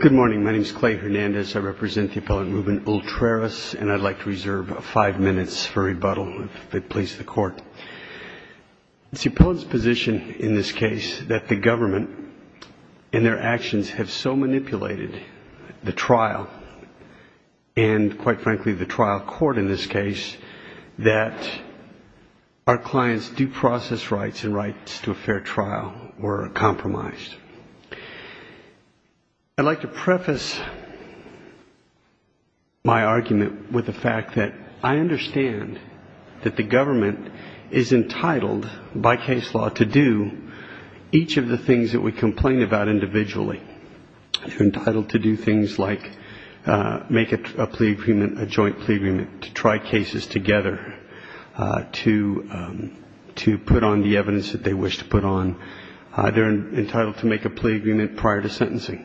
Good morning, my name is Clay Hernandez. I represent the appellant Ruben Ultreras, and I'd like to reserve five minutes for rebuttal if it pleases the court. It's the appellant's position in this case that the government and their actions have so manipulated the trial, and quite frankly the trial court in this case, that our client's due process rights and rights to a fair trial were compromised. I'd like to preface my argument with the fact that I understand that the government is entitled by case law to do each of the things that we complain about individually. They're entitled to do things like make a plea agreement, a joint plea agreement, to try cases together, to put on the evidence that they wish to put on. They're entitled to make a plea agreement prior to sentencing.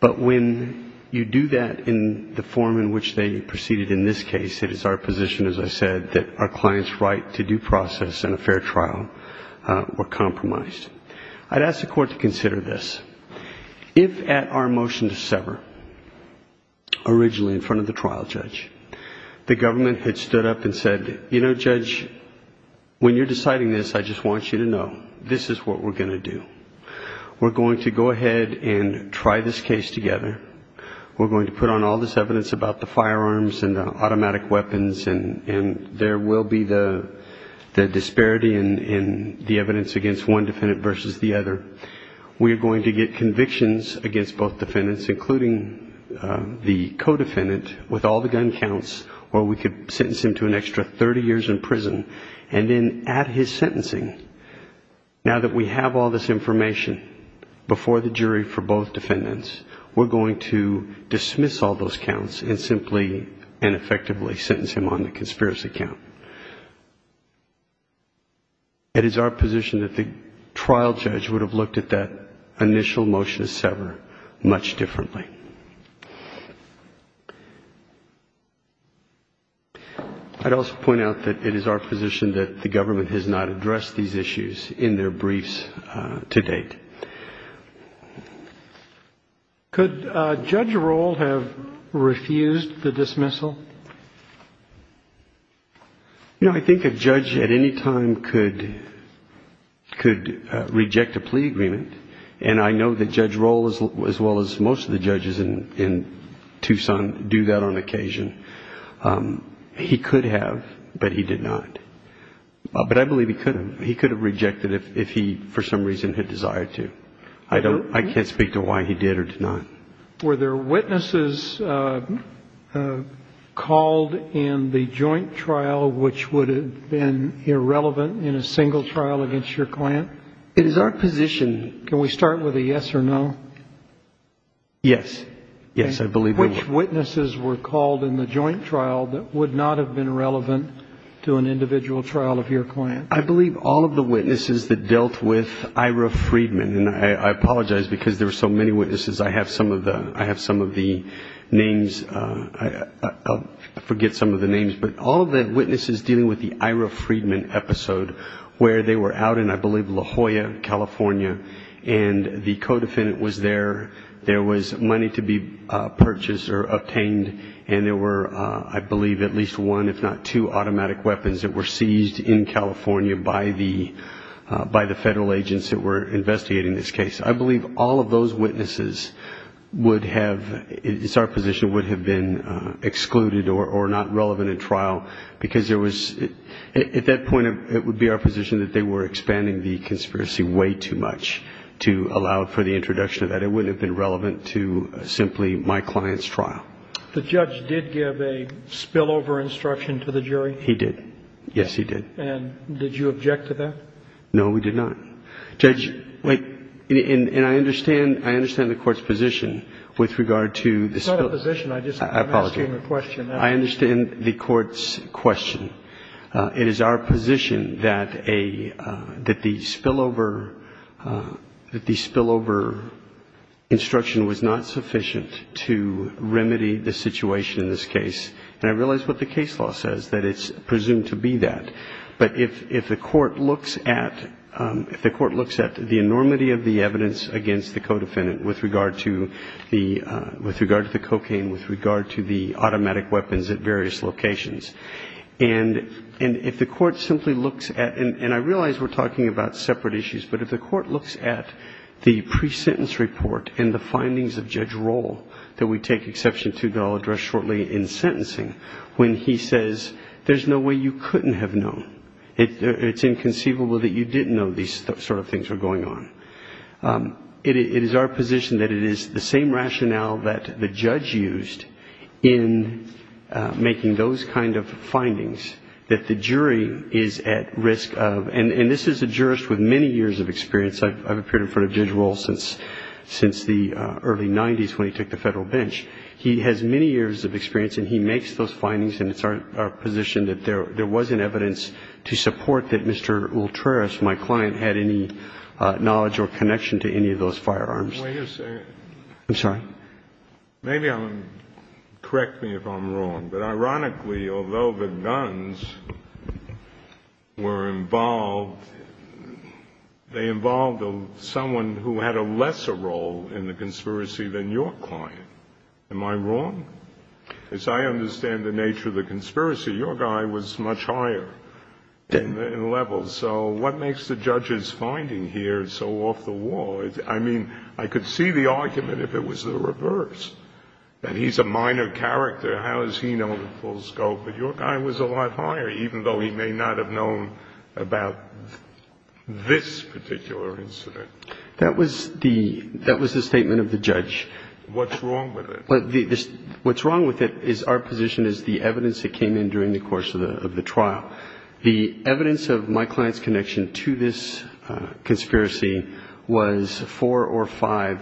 But when you do that in the form in which they proceeded in this case, it is our position, as I said, that our client's right to due process and a fair trial were compromised. I'd ask the court to consider this. If at our motion to sever, originally in front of the trial judge, the government had stood up and said, you know, Judge, when you're deciding this, I just want you to know, this is what we're going to do. We're going to go ahead and try this case together. We're going to put on all this evidence about the firearms and the automatic weapons, and there will be the disparity in the evidence against one defendant versus the other. We are going to get convictions against both defendants, including the co-defendant, with all the gun counts, or we could sentence him to an extra 30 years in prison. And then at his sentencing, now that we have all this information before the jury for both defendants, we're going to dismiss all those counts and simply and effectively sentence him on the conspiracy count. It is our position that the trial judge would have looked at that initial motion to sever much differently. I'd also point out that it is our position that the government has not addressed these issues in their briefs to date. Could Judge Rohl have refused the dismissal? You know, I think a judge at any time could reject a plea agreement, and I know that Judge Rohl, as well as most of the judges in Tucson, do that on occasion. He could have, but he did not. But I believe he could have. He could have rejected it if he, for some reason, had desired to. I can't speak to why he did or did not. Were there witnesses called in the joint trial which would have been irrelevant in a single trial against your client? It is our position. Can we start with a yes or no? Yes. Yes, I believe there were. Which witnesses were called in the joint trial that would not have been relevant to an individual trial of your client? I believe all of the witnesses that dealt with Ira Friedman, and I apologize because there were so many witnesses. I have some of the names. I forget some of the names, but all of the witnesses dealing with the Ira Friedman episode, where they were out in, I believe, La Jolla, California, and the codefendant was there. There was money to be purchased or obtained, and there were, I believe, at least one, if not two, automatic weapons that were seized in California by the federal agents that were investigating this case. I believe all of those witnesses would have, it's our position, would have been excluded or not relevant in trial, because there was, at that point, it would be our position that they were expanding the conspiracy way too much to allow for the introduction of that. It wouldn't have been relevant to simply my client's trial. The judge did give a spillover instruction to the jury? He did. Yes, he did. And did you object to that? No, we did not. Judge, wait. And I understand the Court's position with regard to the spillover. It's not a position. I'm asking a question. I understand the Court's question. It is our position that a, that the spillover, that the spillover instruction was not sufficient to remedy the situation in this case. And I realize what the case law says, that it's presumed to be that. But if the Court looks at, if the Court looks at the enormity of the evidence against the codefendant with regard to the, with regard to the cocaine, with regard to the automatic weapons at various locations, and if the Court simply looks at, and I realize we're talking about separate issues, but if the Court looks at the pre-sentence report and the findings of Judge Roll that we take exception to, that I'll address shortly, in sentencing, when he says, there's no way you couldn't have known, it's inconceivable that you didn't know these sort of things were going on. It is our position that it is the same rationale that the judge used in making those kind of findings, that the jury is at risk of, and this is a jurist with many years of experience. I've appeared in front of Judge Roll since, since the early 90s when he took the Federal bench. He has many years of experience, and he makes those findings, and it's our position that there wasn't evidence to support that Mr. Ultreris, my client, had any knowledge or connection to any of those firearms. Wait a second. I'm sorry. Maybe I'm, correct me if I'm wrong, but ironically, although the guns were involved, they involved someone who had a lesser role in the conspiracy than your client. Am I wrong? As I understand the nature of the conspiracy, your guy was much higher in levels. So what makes the judge's finding here so off the wall? I mean, I could see the argument if it was the reverse, that he's a minor character. How does he know the full scope? But your guy was a lot higher, even though he may not have known about this particular incident. That was the statement of the judge. What's wrong with it? What's wrong with it is our position is the evidence that came in during the course of the trial. The evidence of my client's connection to this conspiracy was four or five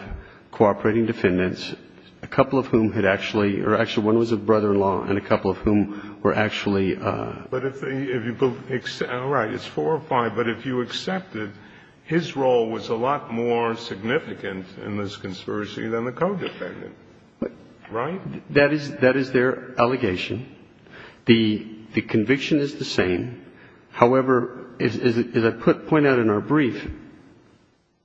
cooperating defendants, a couple of whom had actually, or actually one was a brother-in-law and a couple of whom were actually. But if you, all right, it's four or five, but if you accept it, his role was a lot more significant in this conspiracy than the co-defendant. Right? That is their allegation. The conviction is the same. However, as I point out in our brief,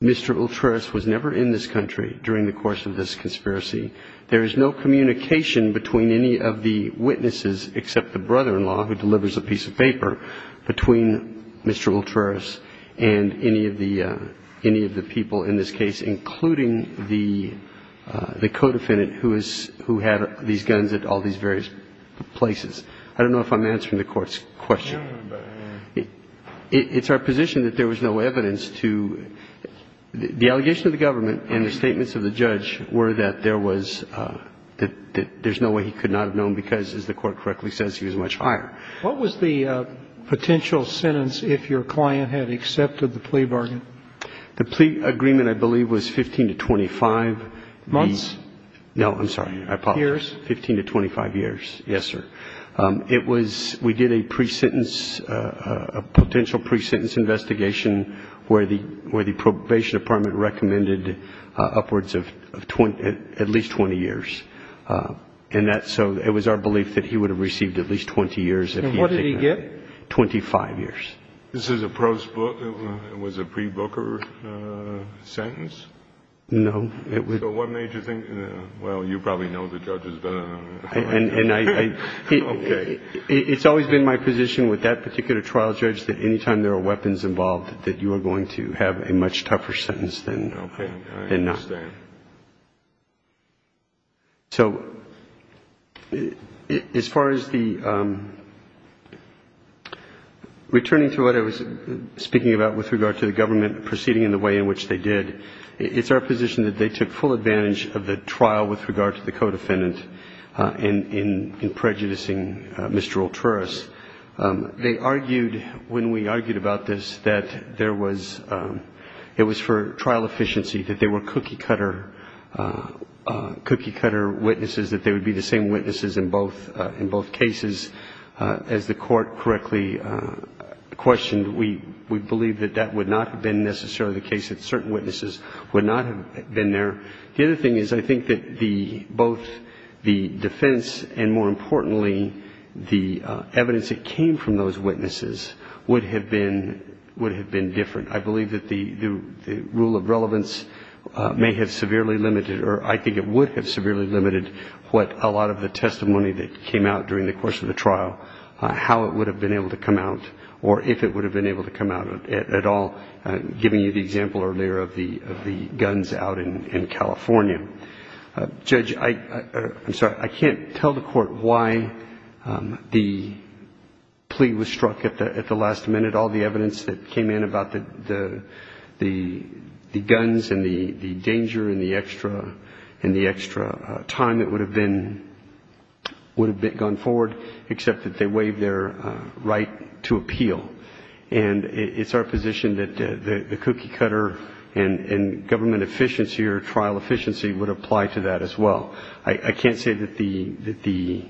Mr. Ultreris was never in this country during the course of this conspiracy. There is no communication between any of the witnesses except the brother-in-law, who delivers a piece of paper, between Mr. Ultreris and any of the people in this case, including the co-defendant who had these guns at all these various places. I don't know if I'm answering the Court's question. It's our position that there was no evidence to the allegation of the government and the statements of the judge were that there was, that there's no way he could not have known because, as the Court correctly says, he was much higher. What was the potential sentence if your client had accepted the plea bargain? The plea agreement, I believe, was 15 to 25. Months? No, I'm sorry. Years? 15 to 25 years. Yes, sir. It was, we did a pre-sentence, a potential pre-sentence investigation where the Probation Department recommended upwards of at least 20 years. And that, so it was our belief that he would have received at least 20 years if he had taken it. And what did he get? 25 years. This is a post-book, it was a pre-booker sentence? No. So what made you think, well, you probably know the judges better than I do. And I, it's always been my position with that particular trial judge that any time there are weapons involved that you are going to have a much tougher sentence than not. Okay, I understand. So as far as the, returning to what I was speaking about with regard to the government proceeding and the way in which they did, it's our position that they took full advantage of the trial with regard to the co-defendant in prejudicing Mr. Ultruris. They argued, when we argued about this, that there was, it was for trial efficiency, that they were cookie-cutter witnesses, that they would be the same witnesses in both cases. As the court correctly questioned, we believe that that would not have been necessarily the case, that certain witnesses would not have been there. The other thing is I think that both the defense and, more importantly, the evidence that came from those witnesses would have been different. I believe that the rule of relevance may have severely limited, or I think it would have severely limited what a lot of the testimony that came out during the course of the trial, how it would have been able to come out or if it would have been able to come out at all, giving you the example earlier of the guns out in California. Judge, I'm sorry, I can't tell the court why the plea was struck at the last minute. We had all the evidence that came in about the guns and the danger and the extra time that would have been, would have gone forward, except that they waived their right to appeal. And it's our position that the cookie-cutter and government efficiency or trial efficiency would apply to that as well. I can't say that the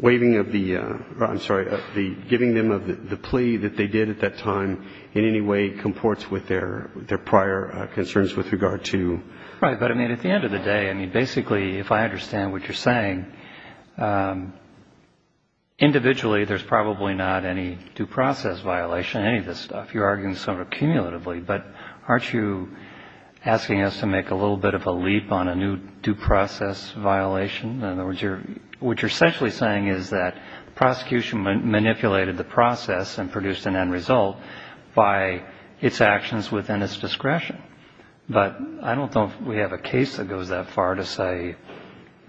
waiving of the, I'm sorry, the giving them of the plea that they did at that time in any way comports with their prior concerns with regard to. Right. But, I mean, at the end of the day, I mean, basically, if I understand what you're saying, individually there's probably not any due process violation, any of this stuff. You're arguing sort of cumulatively. But aren't you asking us to make a little bit of a leap on a new due process violation? In other words, what you're essentially saying is that prosecution manipulated the process and produced an end result by its actions within its discretion. But I don't know if we have a case that goes that far to say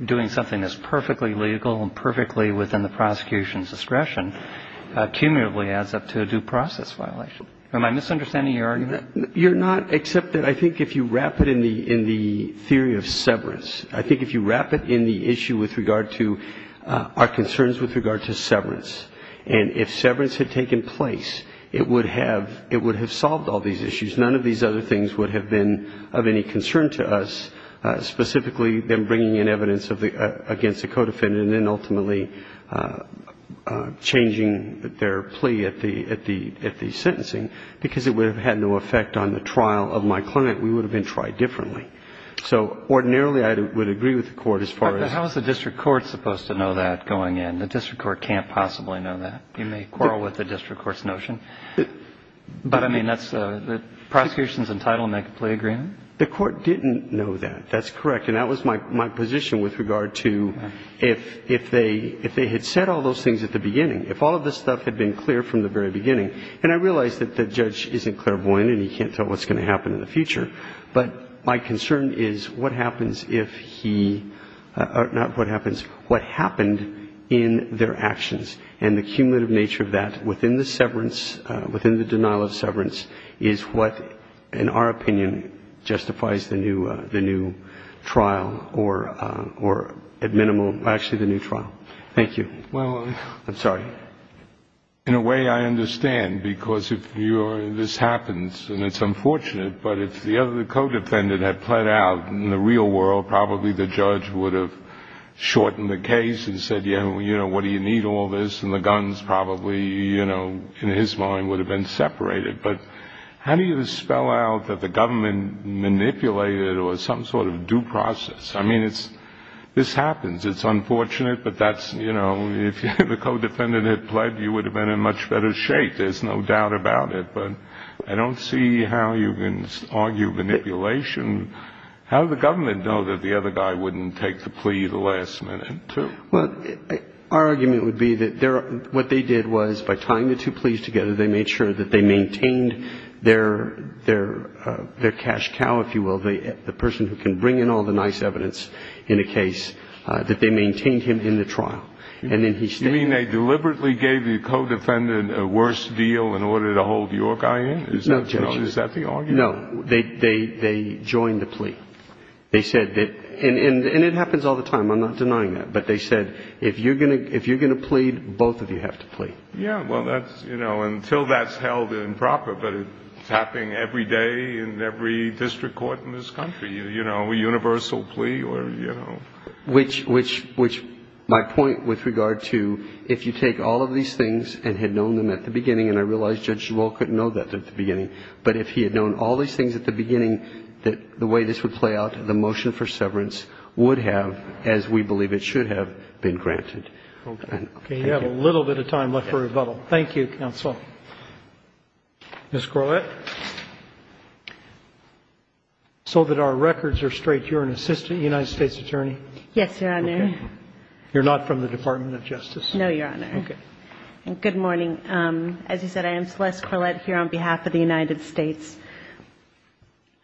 doing something that's perfectly legal and perfectly within the prosecution's discretion cumulatively adds up to a due process violation. Am I misunderstanding your argument? You're not, except that I think if you wrap it in the theory of severance, I think if you wrap it in the issue with regard to our concerns with regard to severance, and if severance had taken place, it would have solved all these issues. None of these other things would have been of any concern to us, specifically them bringing in evidence against the co-defendant and then ultimately changing their plea at the sentencing, because it would have had no effect on the trial of my client. We would have been tried differently. So ordinarily I would agree with the Court as far as the district court can't possibly know that. You may quarrel with the district court's notion. But, I mean, the prosecution's entitled to make a plea agreement. The court didn't know that. That's correct. And that was my position with regard to if they had said all those things at the beginning, if all of this stuff had been clear from the very beginning, and I realize that the judge isn't clairvoyant and he can't tell what's going to happen in the future, but my concern is what happens if he or not what happens, what happened in their actions and the cumulative nature of that within the severance, within the denial of severance is what, in our opinion, justifies the new trial or at minimum, actually the new trial. Thank you. I'm sorry. Well, in a way I understand, because if this happens and it's unfortunate, but if the other co-defendant had pled out in the real world, probably the judge would have shortened the case and said, you know, what do you need all this? And the guns probably, you know, in his mind would have been separated. But how do you spell out that the government manipulated or some sort of due process? I mean, this happens. It's unfortunate, but that's, you know, if the co-defendant had pled, you would have been in much better shape, there's no doubt about it. But I don't see how you can argue manipulation. How does the government know that the other guy wouldn't take the plea at the last minute, too? Well, our argument would be that what they did was by tying the two pleas together, they made sure that they maintained their cash cow, if you will, the person who can bring in all the nice evidence in a case, that they maintained him in the trial. And then he stayed. You mean they deliberately gave the co-defendant a worse deal in order to hold your guy in? No, Judge. Is that the argument? No. They joined the plea. They said that, and it happens all the time, I'm not denying that, but they said if you're going to plead, both of you have to plea. Yeah, well, that's, you know, until that's held improper, but it's happening every day in every district court in this country, you know, a universal plea or, you know. Which my point with regard to if you take all of these things and had known them at the beginning, and I realize Judge DeWalt couldn't know that at the beginning, but if he had known all these things at the beginning, the way this would play out, the motion for severance would have, as we believe it should have, been granted. Okay. We have a little bit of time left for rebuttal. Thank you, counsel. Ms. Corlett. So that our records are straight, you're an assistant United States attorney? Yes, Your Honor. Okay. You're not from the Department of Justice? No, Your Honor. Okay. And good morning. As you said, I am Celeste Corlett here on behalf of the United States.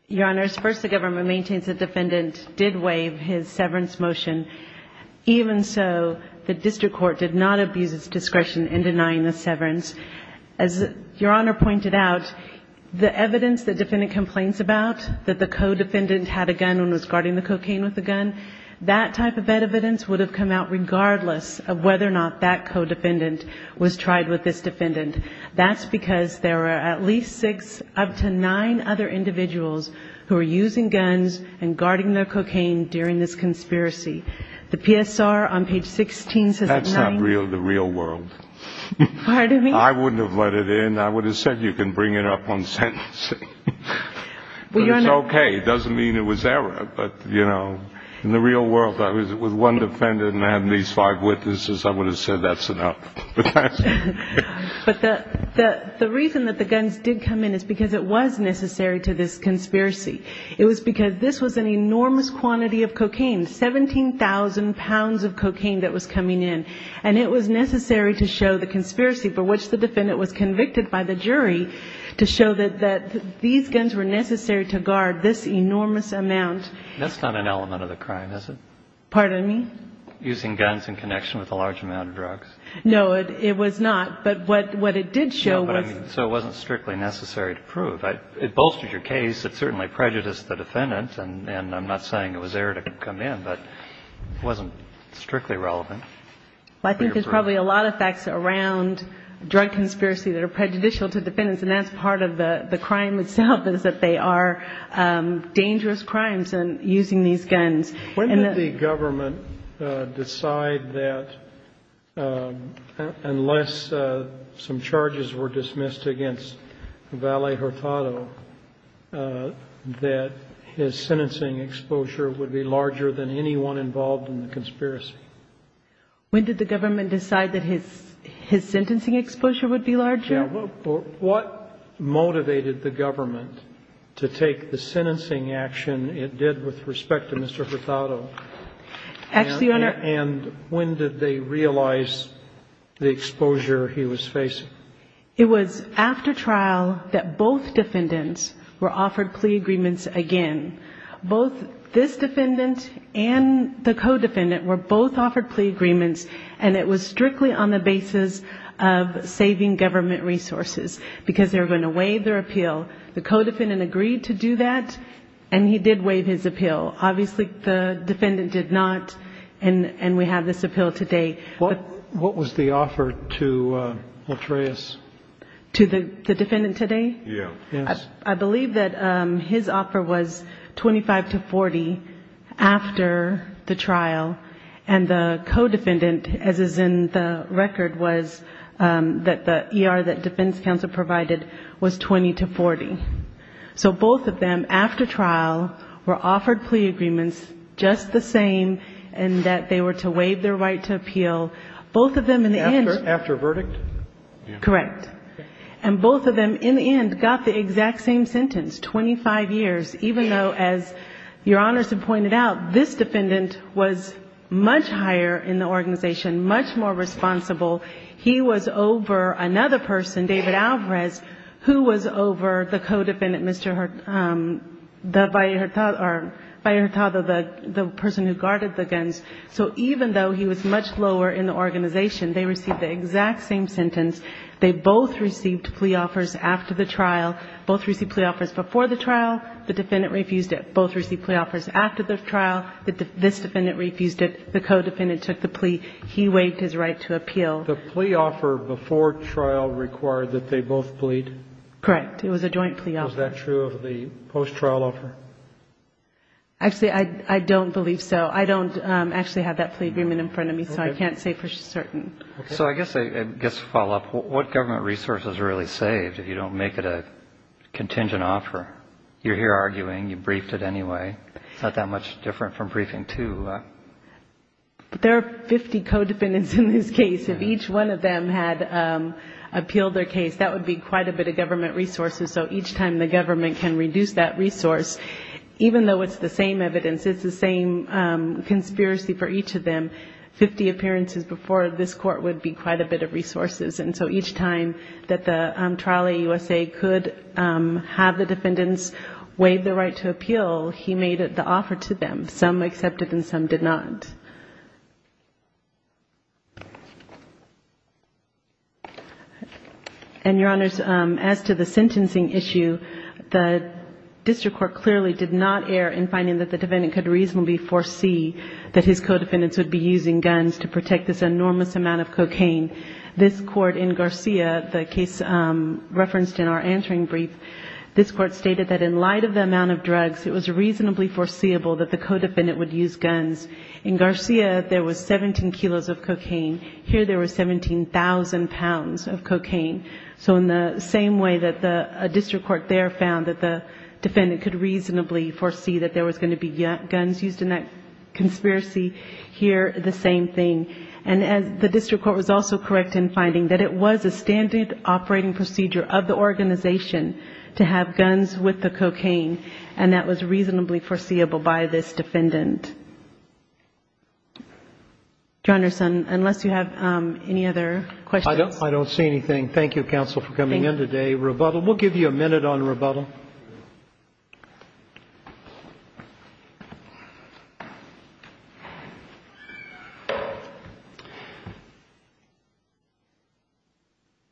Your Honors, first, the government maintains the defendant did waive his severance motion, even so the district court did not abuse its discretion in denying the severance. As Your Honor pointed out, the evidence the defendant complains about, that the co-defendant had a gun and was guarding the cocaine with a gun, that type of evidence would have come out regardless of whether or not that co-defendant was tried with this defendant. That's because there are at least six up to nine other individuals who are using guns and guarding their cocaine during this conspiracy. The PSR on page 16 says that nine of them. That's not the real world. Pardon me? I wouldn't have let it in. I would have said you can bring it up on sentencing. But it's okay. It doesn't mean it was error. But, you know, in the real world, if it was one defendant and I had these five witnesses, I would have said that's enough. But the reason that the guns did come in is because it was necessary to this conspiracy. It was because this was an enormous quantity of cocaine, 17,000 pounds of cocaine that was coming in. And it was necessary to show the conspiracy for which the defendant was convicted by the jury to show that these guns were necessary to guard this enormous amount. That's not an element of the crime, is it? Pardon me? Using guns in connection with a large amount of drugs. No, it was not. But what it did show was. So it wasn't strictly necessary to prove. It bolstered your case. It certainly prejudiced the defendant. And I'm not saying it was error to come in. But it wasn't strictly relevant. I think there's probably a lot of facts around drug conspiracy that are prejudicial to defendants. And that's part of the crime itself is that they are dangerous crimes in using these guns. When did the government decide that unless some charges were dismissed against Valle Hurtado, that his sentencing exposure would be larger than anyone involved in the conspiracy? When did the government decide that his sentencing exposure would be larger? What motivated the government to take the sentencing action it did with respect to Mr. Hurtado? And when did they realize the exposure he was facing? It was after trial that both defendants were offered plea agreements again. Both this defendant and the co-defendant were both offered plea agreements. And it was strictly on the basis of saving government resources because they were going to waive their appeal. The co-defendant agreed to do that. And he did waive his appeal. Obviously, the defendant did not. And we have this appeal today. What was the offer to Otreas? To the defendant today? Yes. I believe that his offer was 25 to 40 after the trial. And the co-defendant, as is in the record, was that the ER that defense counsel provided was 20 to 40. So both of them, after trial, were offered plea agreements, just the same, and that they were to waive their right to appeal. Both of them in the end. After verdict? Correct. And both of them in the end got the exact same sentence, 25 years, even though, as Your Honor has pointed out, this defendant was much higher in the organization, much more responsible. He was over another person, David Alvarez, who was over the co-defendant, Mr. Hurtado, the person who guarded the guns. So even though he was much lower in the organization, they received the exact same sentence. They both received plea offers after the trial. Both received plea offers before the trial. The defendant refused it. Both received plea offers after the trial. This defendant refused it. The co-defendant took the plea. He waived his right to appeal. The plea offer before trial required that they both plead? Correct. It was a joint plea offer. Was that true of the post-trial offer? Actually, I don't believe so. I don't actually have that plea agreement in front of me, so I can't say for certain. So I guess to follow up, what government resources are really saved if you don't make it a contingent offer? You're here arguing. You briefed it anyway. It's not that much different from briefing two. There are 50 co-defendants in this case. If each one of them had appealed their case, that would be quite a bit of government resources. So each time the government can reduce that resource, even though it's the same evidence, it's the same conspiracy for each of them, 50 appearances before this court would be quite a bit of resources. And so each time that the trial at USA could have the defendants waive their right to appeal, he made the offer to them. Some accepted and some did not. And, Your Honors, as to the sentencing issue, the district court clearly did not err in finding that the defendant could reasonably foresee that his co-defendants would be using guns to protect this enormous amount of cocaine. This court in Garcia, the case referenced in our answering brief, this court stated that in light of the amount of drugs, it was reasonably foreseeable that the co-defendant would use guns. In Garcia, there was 17 kilos of cocaine. Here there was 17,000 pounds of cocaine. So in the same way that a district court there found that the defendant could reasonably foresee that there was going to be guns used in that conspiracy, here the same thing. And the district court was also correct in finding that it was a standard operating procedure of the organization to have guns with the cocaine, and that was reasonably foreseeable by this defendant. Your Honors, unless you have any other questions. I don't see anything. Thank you, counsel, for coming in today. Thank you. Rebuttal. We'll give you a minute on rebuttal.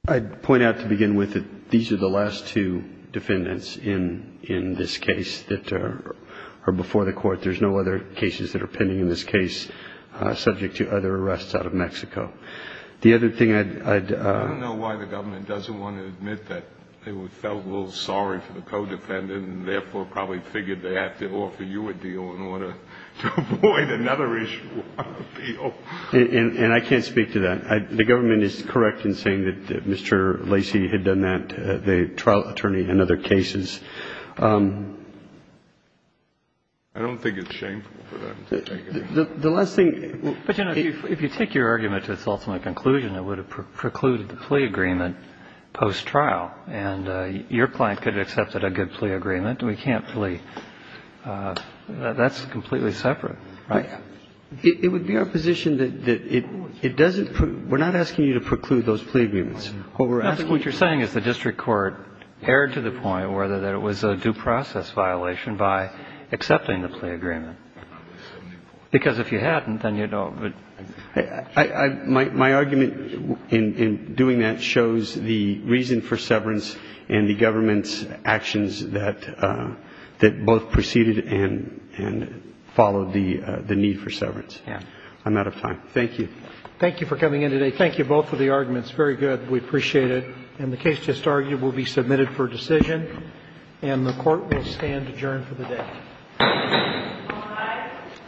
I'd point out to begin with that these are the last two defendants in this case that are before the court. There's no other cases that are pending in this case subject to other arrests out of Mexico. The other thing I'd... I don't know why the government doesn't want to admit that they felt a little sorry for the co-defendant and therefore probably figured they have to offer you a deal in order to avoid another issue of appeal. And I can't speak to that. The government is correct in saying that Mr. Lacey had done that, the trial attorney, in other cases. I don't think it's shameful for them to take it. The last thing... But, you know, if you take your argument to its ultimate conclusion, it would have precluded the plea agreement post-trial. And your client could have accepted a good plea agreement. We can't flee. That's completely separate, right? It would be our position that it doesn't pre... We're not asking you to preclude those plea agreements. What we're asking... I don't know whether it was a due process violation by accepting the plea agreement. Because if you hadn't, then you don't... My argument in doing that shows the reason for severance and the government's actions that both preceded and followed the need for severance. Yeah. I'm out of time. Thank you. Thank you for coming in today. Thank you both for the arguments. Very good. We appreciate it. And the case just argued will be submitted for decision. And the Court will stand adjourned for the day. All rise.